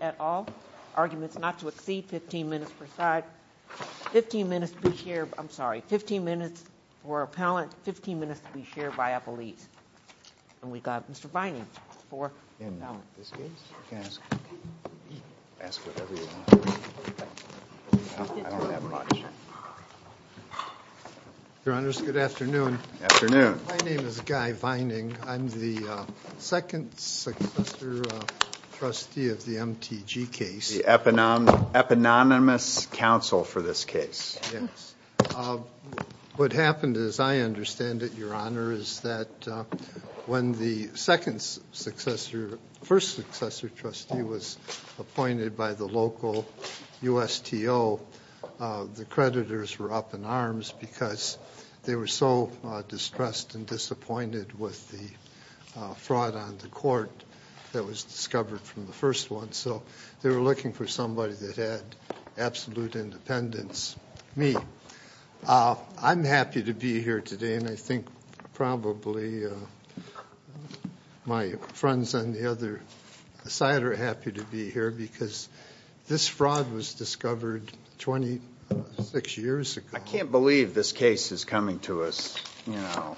at all. Arguments not to exceed 15 minutes per side. 15 minutes to be shared, I'm sorry, 15 minutes for appellant, 15 minutes to be shared by a police. And we got Mr. Vining Good afternoon. My name is Guy Vining. I'm the second successor trustee of the MTG case. The eponymous counsel for this case. Yes, what happened as I understand it, is that when the second successor, first successor trustee was appointed by the local USTO, the creditors were up in arms because they were so distressed and disappointed with the fraud on the court that was discovered from the first one. So they were looking for somebody that had absolute independence. Me. I'm happy to be here today and I think probably my friends on the other side are happy to be here because this fraud was discovered 26 years ago. I can't believe this case is coming to us, you know,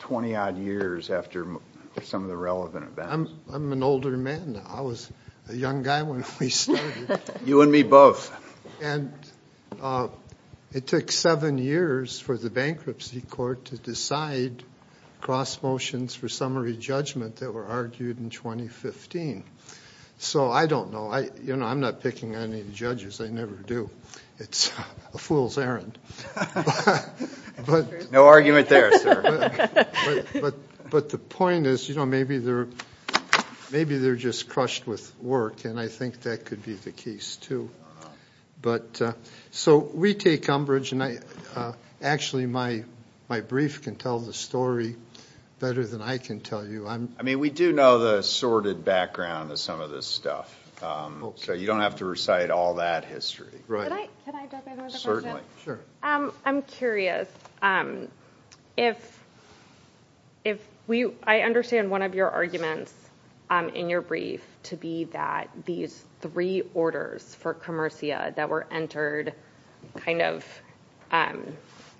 20 odd years after some of the relevant events. I'm an older man. I was a young guy when we started. You and me both. And it took seven years for the bankruptcy court to decide cross motions for summary judgment that were argued in 2015. So I don't know, you know, I'm not picking any judges. I never do. It's a fool's errand. No argument there, sir. But the point is, you know, maybe they're just crushed with work and I think that could be the case too. But so we take umbrage and actually my brief can tell the story better than I can tell you. I mean, we do know the sordid background of some of this stuff. So you don't have to recite all that history. I'm curious. I understand one of your arguments in your brief to be that these three orders for commercia that were entered kind of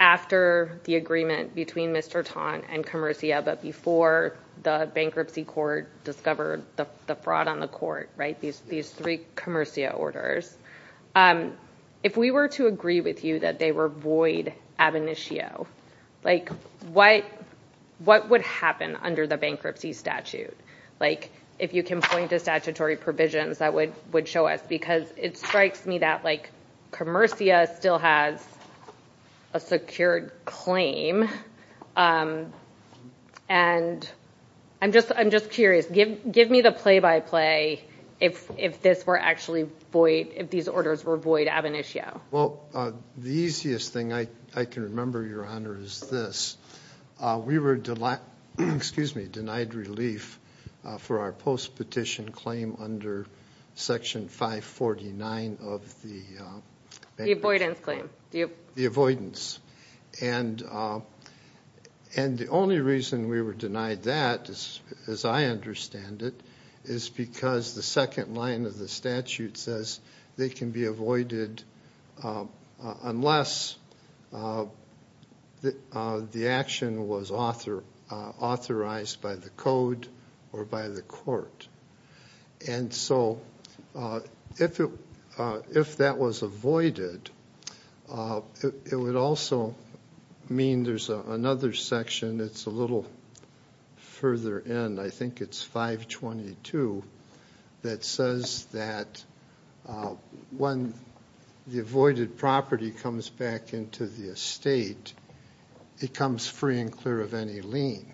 after the agreement between Mr. Taun and but before the bankruptcy court discovered the fraud on the court, right? These three commercia orders. If we were to agree with you that they were void ab initio, like, what would happen under the bankruptcy statute? Like, if you can point to statutory provisions that would show us. Because it strikes me that, like, commercia still has a secured claim. And I'm just curious. Give me the play by play if this were actually void, if these orders were void ab initio. Well, the easiest thing I can remember, Your Honor, is this. We were denied relief for our post-petition claim under section 549 of the... The avoidance claim. The avoidance. And the only reason we were denied that, as I understand it, is because the second line of the by the code or by the court. And so if that was avoided, it would also mean there's another section that's a little further in. I think it's 522 that says that when the avoided property comes back into the estate, it comes free and clear of any lien.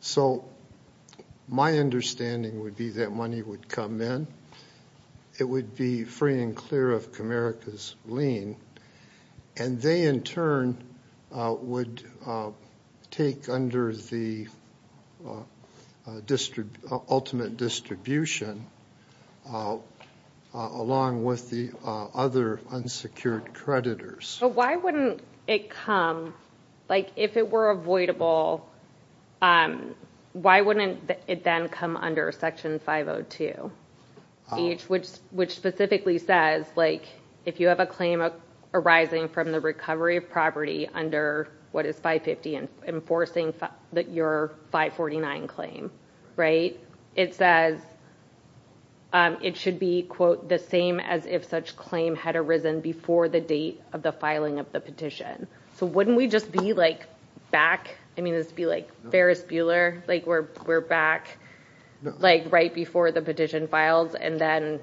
So my understanding would be that money would come in. It would be free and clear of Comerica's lien. And they in turn would take under the ultimate distribution along with the other unsecured creditors. So why wouldn't it come, like, if it were avoidable, why wouldn't it then come under section 502? Which specifically says, like, if you have a claim arising from the recovery of property under what is 550 and enforcing your 549 claim, right? It says it should be, quote, the same as if such claim had arisen before the date of the filing of the petition. So wouldn't we just be, like, back? I mean, this would be, like, Ferris Bueller, like, we're back, like, right before the petition files. And then,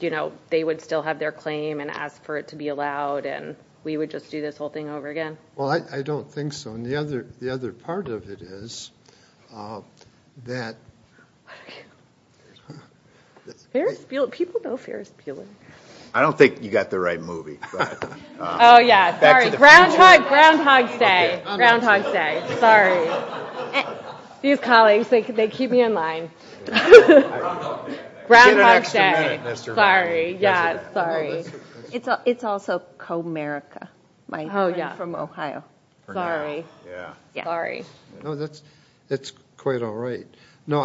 you know, they would still have their claim and ask for it to be allowed. And we would just do this whole thing over again. Well, I don't think so. And the other part of it is that... People know Ferris Bueller. I don't think you got the right movie. Oh, yeah. Sorry. Groundhog Day. Groundhog Day. Sorry. These colleagues, they keep me in line. Groundhog Day. Sorry. Yeah. Sorry. It's also Comerica, my friend from Ohio. Sorry. It's quite all right. No,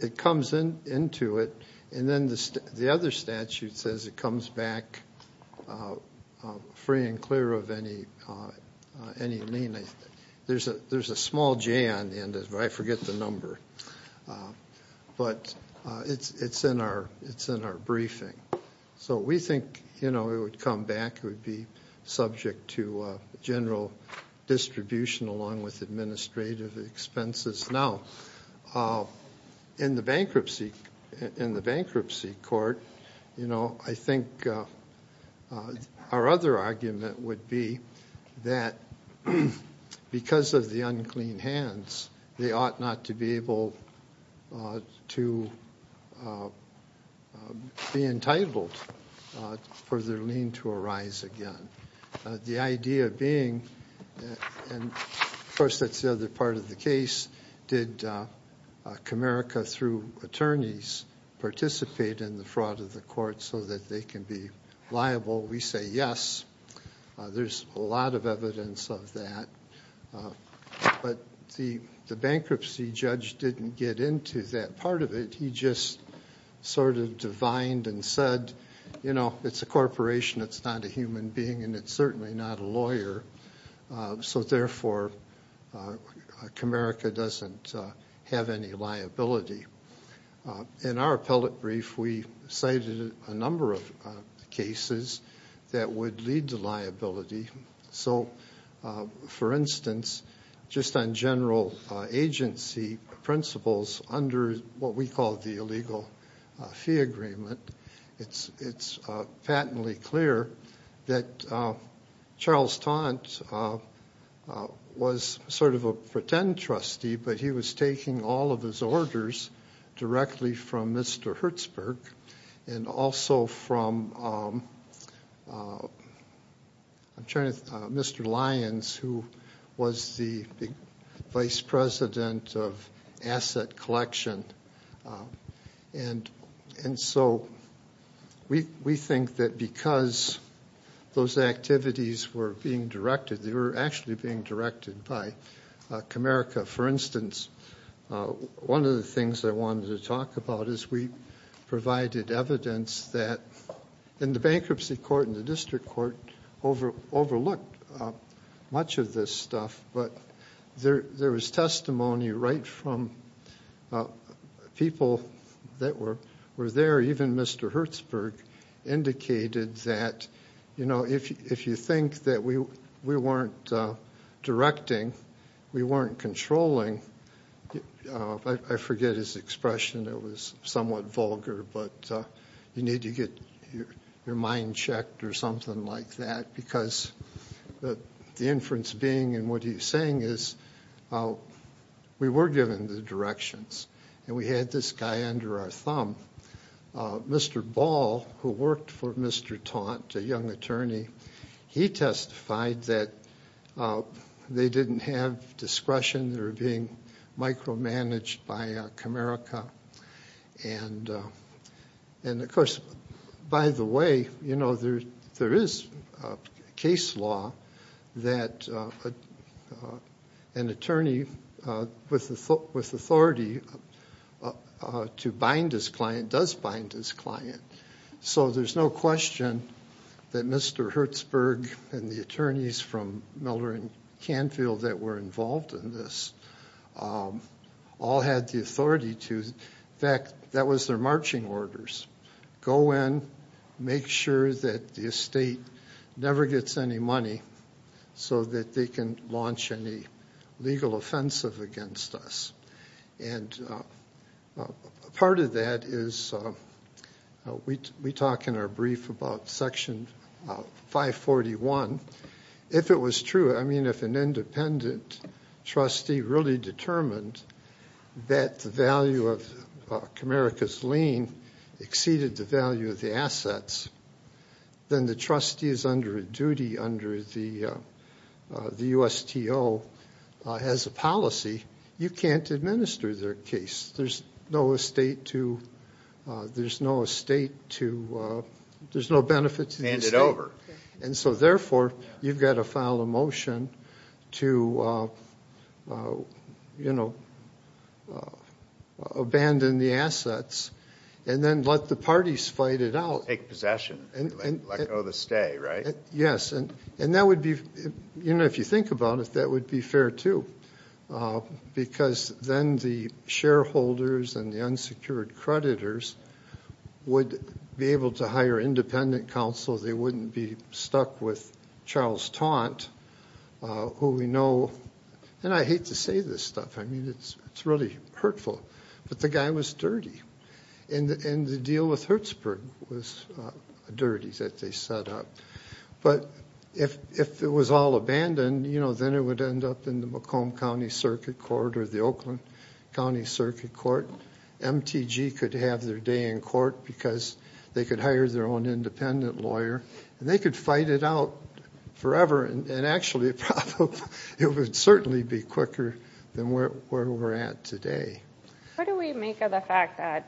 it comes into it. And then the other statute says it comes back free and clear of any lien. There's a small J on the end, but I forget the number. But it's in our briefing. So we think, you know, it would come back, it would be subject to general distribution along with administrative expenses. Now, in the bankruptcy court, you know, I think our other argument would be that because of the unclean hands, they ought not to be able to be entitled for their lien to arise again. The idea being, and of course, that's the other part of the case, did Comerica, through attorneys, participate in the fraud of the court so that they can be liable? We say yes. There's a lot of evidence of that. But the bankruptcy judge didn't get into that part of it. He just sort of divined and said, you know, it's a corporation, it's not a human being, and it's certainly not a lawyer. So therefore, Comerica doesn't have any liability. In our appellate brief, we cited a number of cases that would lead to liability. So, for instance, just on general agency principles under what we call the illegal fee agreement, it's patently clear that Charles Taunt was sort of a pretend trustee, but he was taking all of his orders directly from Mr. Hertzberg and also from Mr. Lyons, who was the vice president of asset collection. And so we think that because those activities were being directed, they were actually being directed by Comerica. For instance, one of the things I wanted to talk about is we provided evidence that in the bankruptcy court and the district court overlooked much of this stuff, but there was testimony right from people that were there. Even Mr. Hertzberg indicated that, you know, if you think that we weren't directing, we weren't controlling, I forget his expression, it was somewhat vulgar, but you need to get your mind checked or something like that, because the inference being and what he's saying is we were given the directions and we had this guy under our thumb. Mr. Ball, who worked for Mr. Taunt, a young attorney, he testified that they didn't have discretion, they were being micromanaged by Comerica. And of course, by the way, you know, there is a case law that an attorney with authority to bind his client does bind his client. So there's no question that Mr. Hertzberg and the attorneys from Miller and Canfield that were involved in this all had the authority to, in fact, that was their marching orders. Go in, make sure that the estate never gets any money so that they can launch any legal offensive against us. And part of that is we talk in our brief about Section 541. If it was true, I mean, if an independent trustee really determined that the value of Comerica's lien exceeded the value of the assets, then the trustee is under a duty under the USTO has a policy, you can't administer their case. There's no estate to, there's no benefit to the estate. And so therefore, you've got to file a motion to, you know, abandon the assets and then let the parties fight it out. Take possession. Let go of the stay, right? Yes. And that would be, you know, if you think about it, that would be fair, too. Because then the shareholders and the unsecured creditors would be able to hire independent counsel. They wouldn't be stuck with Charles Taunt, who we know, and I hate to say this stuff, I mean, it's really hurtful, but the guy was dirty. And the deal with Hertzberg was dirty that they set up. But if it was all abandoned, you know, then it would end up in the Macomb County Circuit Court or the Oakland County Circuit Court. MTG could have their day in court because they could hire their own independent lawyer and they could fight it out forever. And actually, it would certainly be quicker than where we're at today. How do we make of the fact that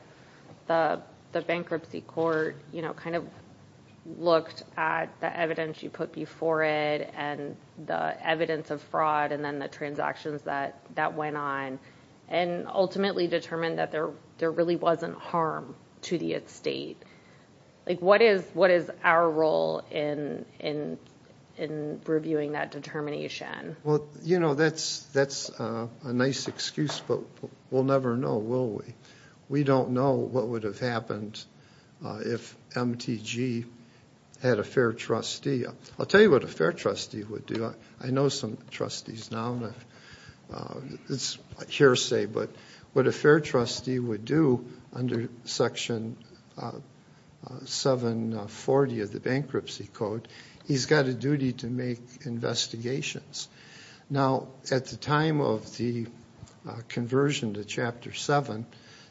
the bankruptcy court, you know, kind of looked at the evidence you put before it and the evidence of fraud and then the transactions that went on and ultimately determined that there really wasn't harm to the estate? Like, what is our role in reviewing that determination? Well, you know, that's a nice excuse, but we'll never know, will we? We don't know what would have happened if MTG had a fair trustee. I'll tell you what a fair trustee would do. I know some trustees now. It's hearsay, but what a fair trustee would do under Section 740 of the bankruptcy code, he's got a duty to make investigations. Now, at the time of the conversion to Chapter 7,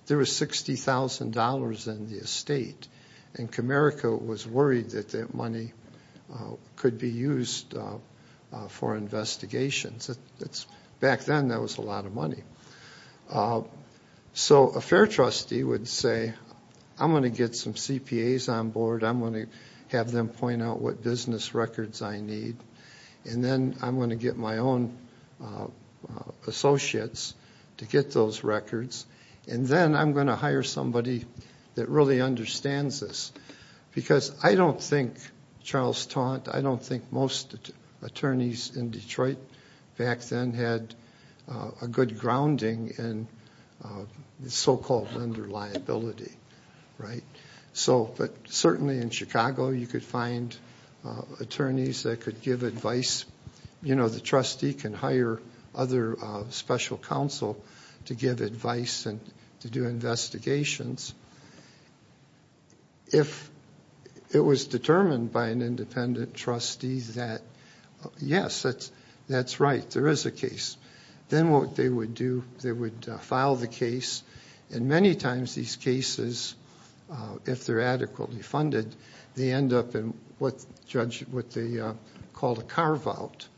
there was $60,000 in the estate and Comerica was worried that that money could be used for investigations. Back then, that was a lot of money. So a fair trustee would say, I'm going to get some CPAs on board, I'm going to have them point out what business records I need, and then I'm going to get my own associates to get those records, and then I'm going to hire somebody that really understands this. Because I don't think Charles Taunt, I don't think most attorneys in Detroit back then had a good grounding in so-called lender liability, right? But certainly in Chicago, you could find attorneys that could give advice. You know, the trustee can hire other special counsel to give advice and to do investigations. If it was determined by an independent trustee that, yes, that's right, there is a case, then what they would do, they would file the case. And many times, these cases, if they're adequately funded, they end up in what they call a carve-out.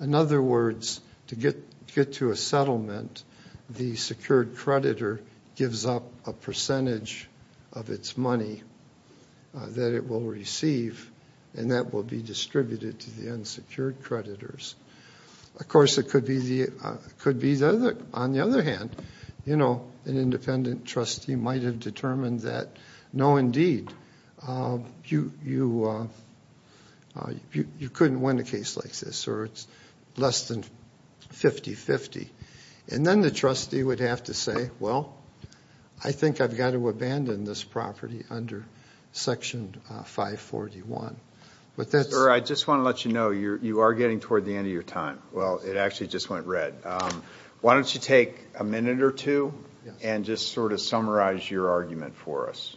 In other words, to get to a settlement, the secured creditor gives up a percentage of its money that it will receive, and that will be distributed to the unsecured creditors. Of course, it could be, on the other hand, an independent trustee might have determined that, no, indeed, you couldn't win a case like this, or it's less than 50-50. And then the trustee would have to say, well, I think I've got to abandon this property under Section 541. Sir, I just want to let you know, you are getting toward the end of your time. Well, it actually just went red. Why don't you take a minute or two and just sort of summarize your argument for us?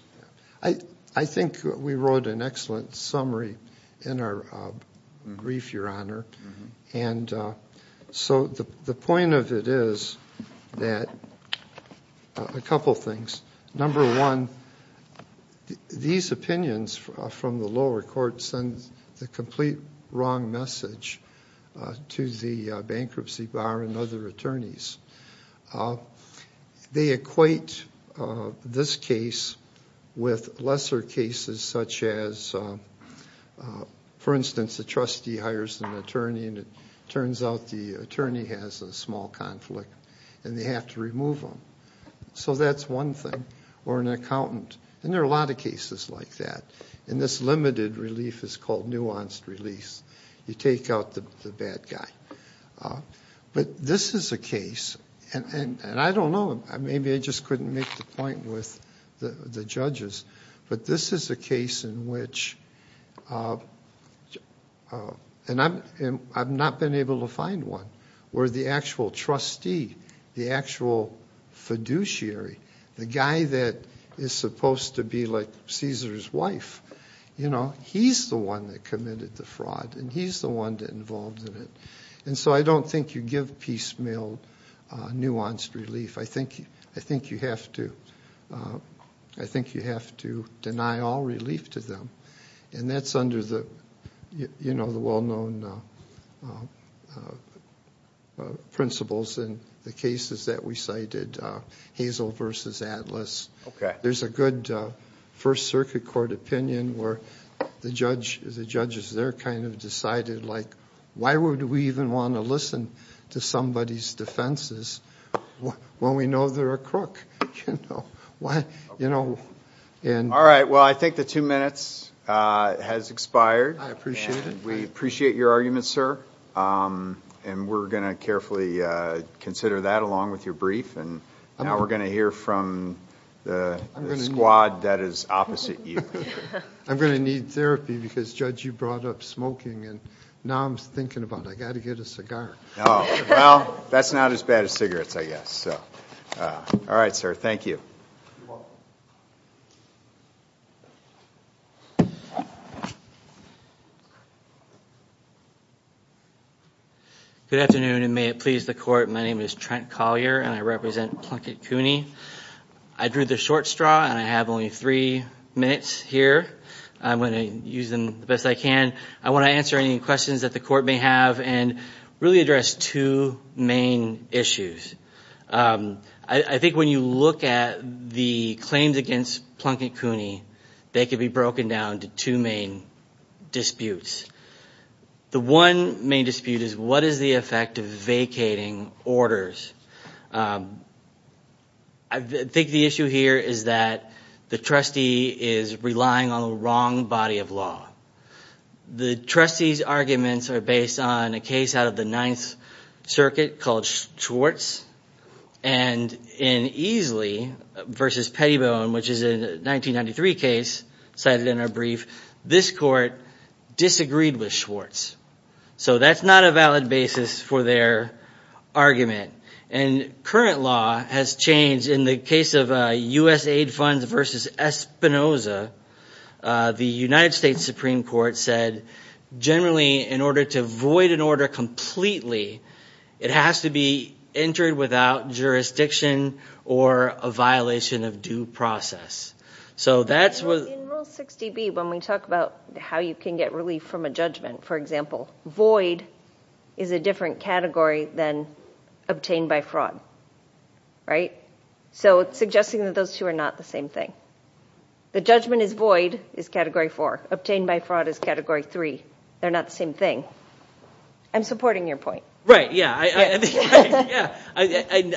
I think we wrote an excellent summary in our brief, Your Honor. And so the point of it is that a couple things. Number one, these opinions from the lower court send the complete wrong message to the bankruptcy bar and other attorneys. They equate this case with lesser cases such as, for instance, the trustee hires an attorney and it turns out the attorney has a small conflict and they have to remove him. So that's one thing. Or an accountant. And there are a lot of cases like that. And this limited relief is called nuanced release. You take out the bad guy. But this is a case, and I don't know, maybe I just couldn't make the point with the judges, but this is a case in which, and I've not been able to find one, where the actual trustee, the actual fiduciary, the guy that is supposed to be like Caesar's wife, he's the one that committed the fraud and he's the one involved in it. And so I don't think you give piecemeal nuanced relief. I think you have to deny all relief to them. And that's under the well-known principles in the cases that we cited. Hazel versus Atlas. There's a good First Circuit Court opinion where the judges there kind of decided, like, why would we even want to listen to somebody's defenses when we know they're a crook? You know? All right. Well, I think the two minutes has expired. I appreciate it. We appreciate your argument, sir. And we're going to carefully consider that along with your brief. And now we're going to hear from the squad that is opposite you. I'm going to need therapy because, Judge, you brought up smoking. And now I'm thinking about it. I've got to get a cigar. Oh, well, that's not as bad as cigarettes, I guess. All right, sir. Thank you. Good afternoon, and may it please the Court. My name is Trent Collier, and I represent Plunkett Cooney. I drew the short straw, and I have only three minutes here. I'm going to use them the best I can. I want to answer any questions that the Court may have and really address two main issues. I think when you look at the claims against Plunkett Cooney, they can be broken down into two main disputes. The one main dispute is, what is the effect of vacating orders? I think the issue here is that the trustee is relying on the wrong body of law. The trustee's arguments are based on a case out of the Ninth Circuit called Schwartz, and in Easley v. Pettibone, which is a 1993 case cited in our brief, this Court disagreed with Schwartz. So that's not a valid basis for their argument. And current law has changed. In the case of U.S. aid funds v. Espinoza, the United States Supreme Court said, generally, in order to void an order completely, it has to be entered without jurisdiction or a violation of due process. In Rule 60B, when we talk about how you can get relief from a judgment, for example, is a different category than obtained by fraud. So it's suggesting that those two are not the same thing. The judgment is void is category four. Obtained by fraud is category three. They're not the same thing. I'm supporting your point. I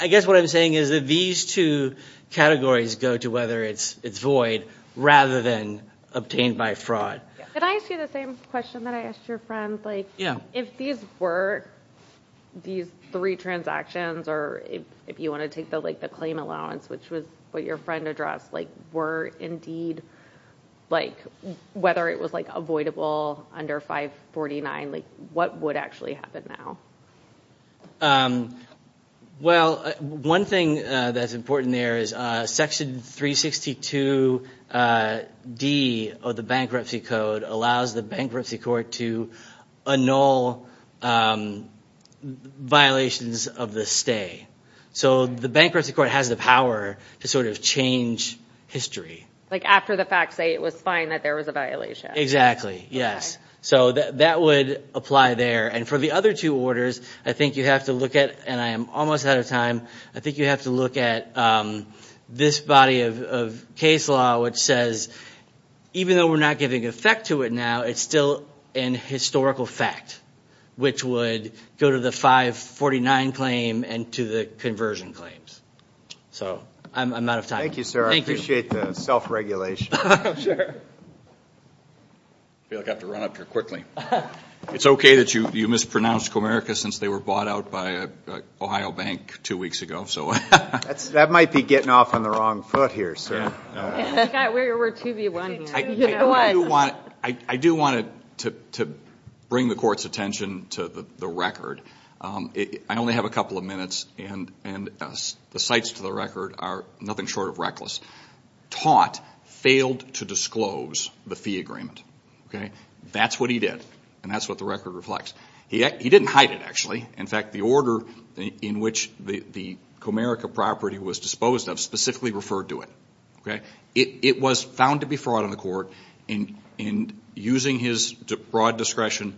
guess what I'm saying is that these two categories go to whether it's void rather than obtained by fraud. Can I ask you the same question that I asked your friend? If these were these three transactions, or if you want to take the claim allowance, which was what your friend addressed, were indeed, whether it was avoidable under 549, what would actually happen now? One thing that's important there is Section 362D of the Bankruptcy Code allows the Bankruptcy to annul violations of the stay. The Bankruptcy Court has the power to change history. Like after the facts say it was fine that there was a violation. Exactly, yes. That would apply there. For the other two orders, I think you have to look at, and I am almost out of time, I think you have to look at this body of case law, which says, even though we're not giving effect to it now, it's still an historical fact, which would go to the 549 claim and to the conversion claims. I'm out of time. Thank you, sir. I appreciate the self-regulation. I feel like I have to run up here quickly. It's okay that you mispronounced Comerica since they were bought out by Ohio Bank two weeks ago. That might be getting off on the wrong foot here, sir. I do want to bring the Court's attention to the record. I only have a couple of minutes. The sites to the record are nothing short of reckless. Taunt failed to disclose the fee agreement. That's what he did. That's what the record reflects. He didn't hide it, actually. The order in which the Comerica property was disposed of specifically referred to it. It was found to be fraud on the court. Using his broad discretion,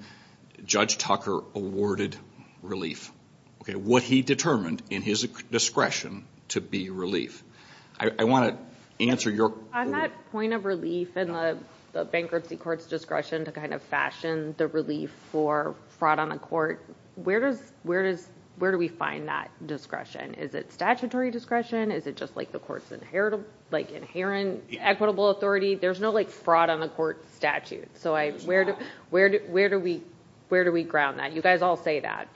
Judge Tucker awarded relief. What he determined in his discretion to be relief. I want to answer your- On that point of relief and the bankruptcy court's discretion to fashion the relief for fraud on the court, where do we find that discretion? Is it statutory discretion? Is it just the Court's inherent equitable authority? There's no fraud on the court statute. Where do we ground that? You guys all say that.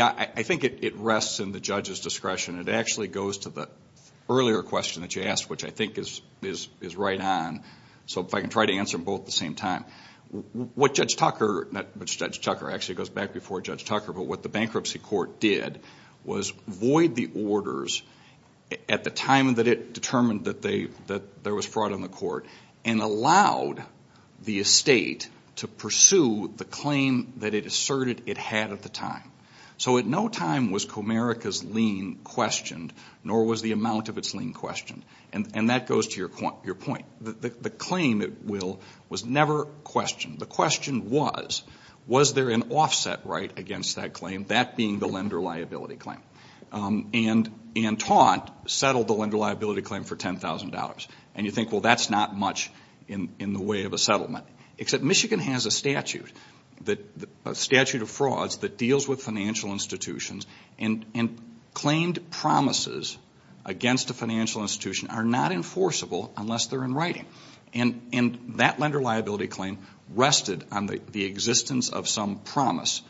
I think it rests in the judge's discretion. It actually goes to the earlier question that you asked, which I think is right on. If I can try to answer them both at the same time. What Judge Tucker... Judge Tucker actually goes back before Judge Tucker. What the bankruptcy court did was void the orders at the time that it determined that there was fraud on the court and allowed the estate to pursue the claim that it asserted it had at the time. At no time was Comerica's lien questioned, nor was the amount of its lien questioned. That goes to your point. The claim, it will, was never questioned. The question was, was there an offset right against that claim, that being the lender liability claim? Anne Taunt settled the lender liability claim for $10,000. You think, well, that's not much in the way of a settlement. Except Michigan has a statute of frauds that deals with financial institutions that are not enforceable unless they're in writing. That lender liability claim rested on the existence of some promise,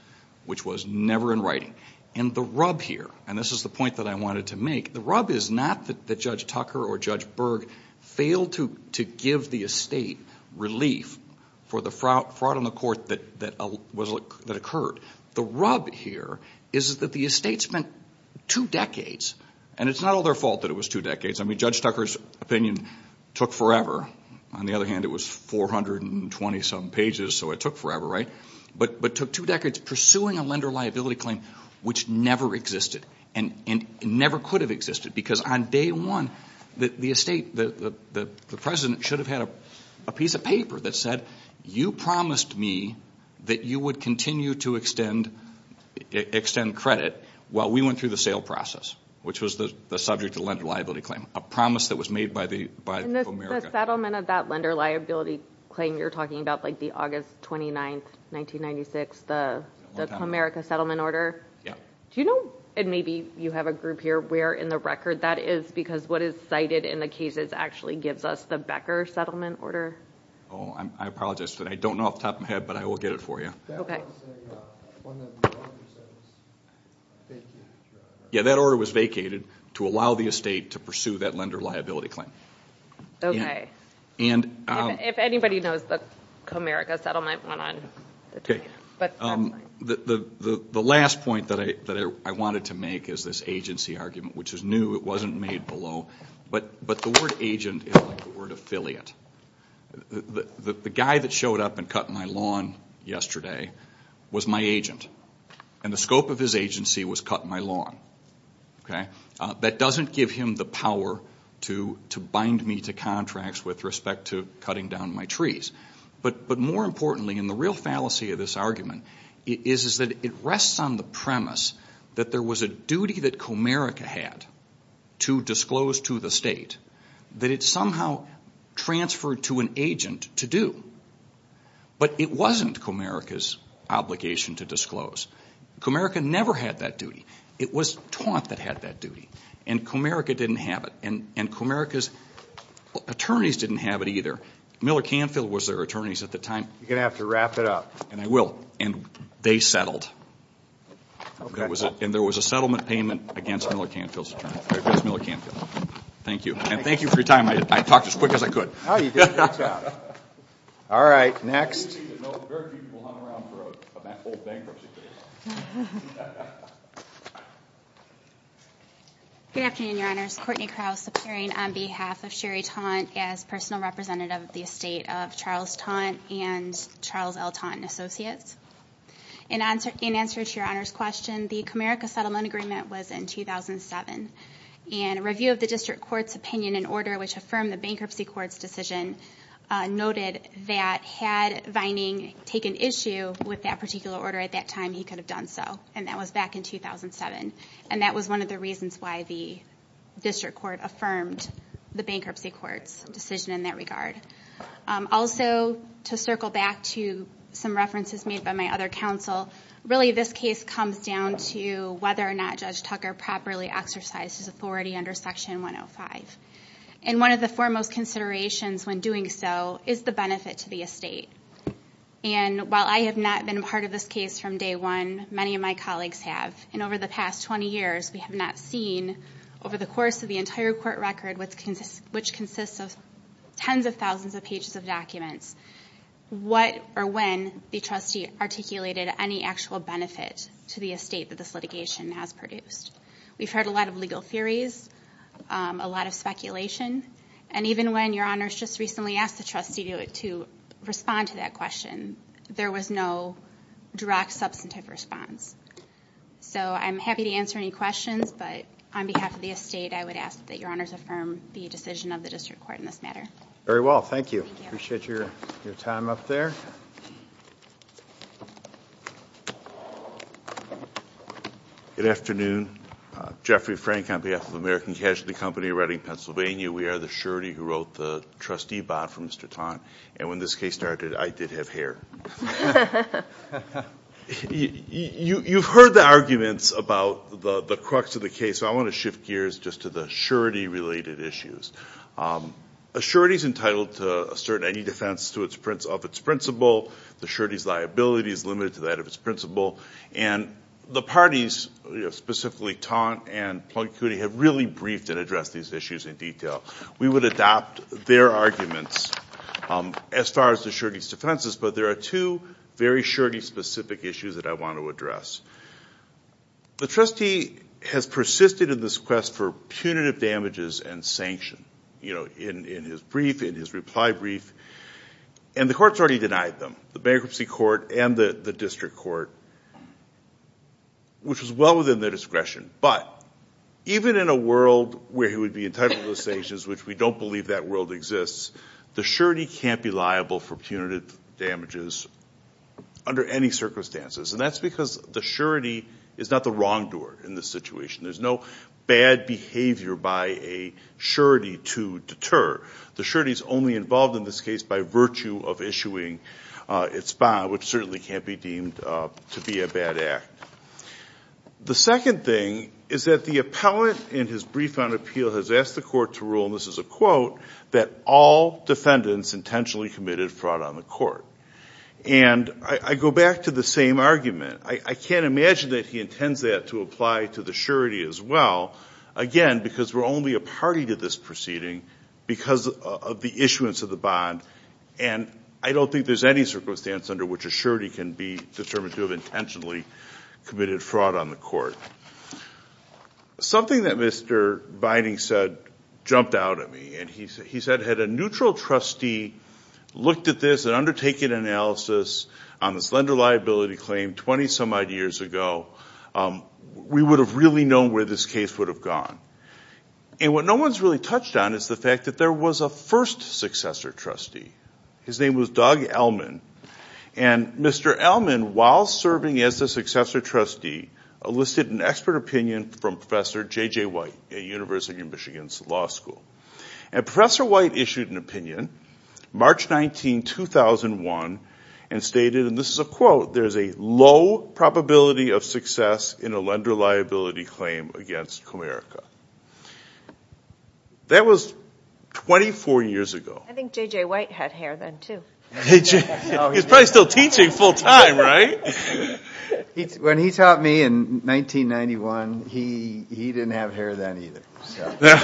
which was never in writing. The rub here, and this is the point that I wanted to make, the rub is not that Judge Tucker or Judge Berg failed to give the estate relief for the fraud on the court that occurred. The rub here is that the spent two decades, and it's not all their fault that it was two decades. Judge Tucker's opinion took forever. On the other hand, it was 420 some pages, so it took forever, right? But took two decades pursuing a lender liability claim, which never existed and never could have existed. Because on day one, the estate, the president should have had a piece of paper that said, you promised me that you would continue to extend credit while we went through the sale process, which was the subject of the lender liability claim, a promise that was made by Comerica. The settlement of that lender liability claim you're talking about, like the August 29th, 1996, the Comerica settlement order. Do you know, and maybe you have a group here, where in the record that is, because what is cited in the cases actually gives us the Becker settlement order? Oh, I apologize, but I don't know off the top of my head, but I will get it for you. Okay. Yeah, that order was vacated to allow the estate to pursue that lender liability claim. Okay. If anybody knows the Comerica settlement went on. The last point that I wanted to make is this agency argument, which is new, it wasn't made below, but the word agent is the word affiliate. The guy that showed up and cut my lawn yesterday was my agent. And the scope of his agency was cut my lawn. Okay. That doesn't give him the power to bind me to contracts with respect to cutting down my trees. But more importantly, and the real fallacy of this argument is that it rests on the premise that there was a duty that Comerica had to disclose to the state that it somehow transferred to an agent to do. But it wasn't Comerica's obligation to disclose. Comerica never had that duty. It was Taunt that had that duty. And Comerica didn't have it. And Comerica's attorneys didn't have it either. Miller Canfield was their attorneys at the time. You're going to have to wrap it up. And I will. And they settled. And there was a settlement payment against Miller Canfield's attorney. Thank you. And thank you for your time. I talked as quick as I could. All right. Next. Good afternoon, your honors. Courtney Krause appearing on behalf of Sherry Taunt as personal representative of the estate of Charles Taunt and Charles L. Taunt and Associates. In answer to your honors question, the Comerica settlement agreement was in 2007. And a review of the district court's opinion and order which affirmed the bankruptcy court's decision noted that had Vining taken issue with that particular order at that time, he could have done so. And that was back in 2007. And that was one of the reasons why the district court affirmed the bankruptcy court's decision in that regard. Also, to circle back to some references made by my other counsel, really this case comes down to whether or not Judge Tucker properly exercised his authority under Section 105. And one of the foremost considerations when doing so is the benefit to the estate. And while I have not been a part of this case from day one, many of my colleagues have. And over the past 20 years, we have not seen over the course of the entire court record, which consists of tens of thousands of pages of documents, what or when the trustee articulated any actual benefit to the estate that this litigation has produced. We've heard a lot of legal theories, a lot of speculation. And even when your honors just recently asked the trustee to respond to that question, there was no direct substantive response. So I'm happy to answer any questions. But on behalf of the estate, I would ask that your honors affirm the decision of the district court in this matter. Very well. Thank you. Appreciate your time up there. Good afternoon. Jeffrey Frank on behalf of American Casualty Company, Redding, Pennsylvania. We are the surety who wrote the trustee bond for Mr. Taunt. And when this case started, I did have hair. You've heard the arguments about the crux of the case. So I want to shift gears just to the surety-related issues. A surety is entitled to assert any defense of its principle. The surety's liability is limited to that of its principle. And the parties, specifically Taunt and Plunk Cootie, have really briefed and addressed these issues in detail. We would adopt their arguments as far as the surety's defenses. But there are two very surety-specific issues that I want to address. The trustee has persisted in this quest for punitive damages and sanction in his brief, in his reply brief. And the court's already denied them, the bankruptcy court and the district court, which was well within their discretion. But even in a world where he would be entitled to sanctions, which we don't believe that world exists, the surety can't be liable for punitive damages under any circumstances. And that's because the surety is not the wrongdoer in this situation. There's no bad behavior by a surety to deter. The surety's only involved in this case by virtue of issuing its bond, which certainly can't be deemed to be a bad act. The second thing is that the in his brief on appeal has asked the court to rule, and this is a quote, that all defendants intentionally committed fraud on the court. And I go back to the same argument. I can't imagine that he intends that to apply to the surety as well. Again, because we're only a party to this proceeding because of the issuance of the bond. And I don't think there's any circumstance under which a surety can be determined to have intentionally committed fraud on the court. Something that Mr. Binding said jumped out at me. And he said, had a neutral trustee looked at this and undertaken analysis on this lender liability claim 20-some odd years ago, we would have really known where this case would have gone. And what no one's really touched on is the fact that there was a first successor trustee. His name was Doug Elman. And Mr. Elman, while serving as the successor trustee, enlisted an expert opinion from Professor J.J. White at University of Michigan's law school. And Professor White issued an opinion, March 19, 2001, and stated, and this is a quote, there's a low probability of success in a lender liability claim against Comerica. That was 24 years ago. I think J.J. White had hair then too. He's probably still teaching full time, right? When he taught me in 1991, he didn't have hair then either.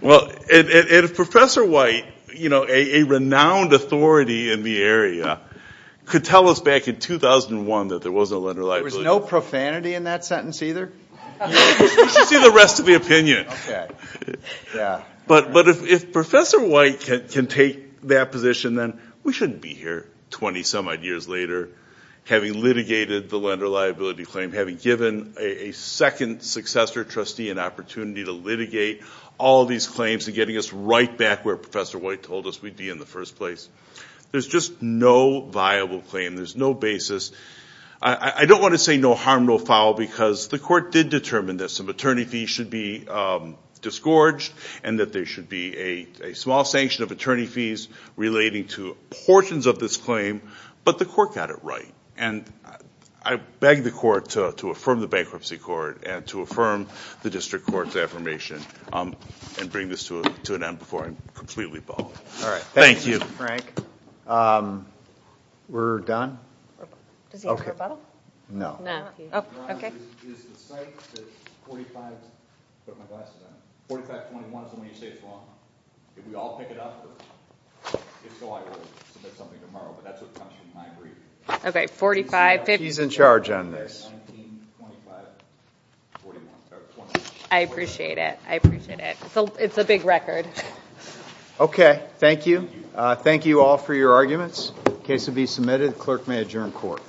Well, and Professor White, a renowned authority in the area, could tell us back in 2001 that there was a lender liability. There was no profanity in that sentence either? We should see the rest of the opinion. But if Professor White can take that position, then we shouldn't be here 20-some odd years later, having litigated the lender liability claim, having given a second successor trustee an opportunity to litigate all these claims, and getting us right back where Professor White told us we'd be in the first place. There's just no viable claim. There's no basis. I don't want to say no harm, no foul, because the court did determine that some attorney fees should be disgorged, and that there should be a small sanction of attorney fees relating to portions of this claim, but the court got it right. I beg the court to affirm the bankruptcy court, and to affirm the district court's affirmation, and bring this to an end before I'm completely bummed. Thank you. Thank you, Frank. We're done? Does he need a rebuttal? No. He's in charge on this. I appreciate it. I appreciate it. It's a big record. Okay. Thank you. Thank you all for your arguments. Case will be submitted. Clerk may adjourn court.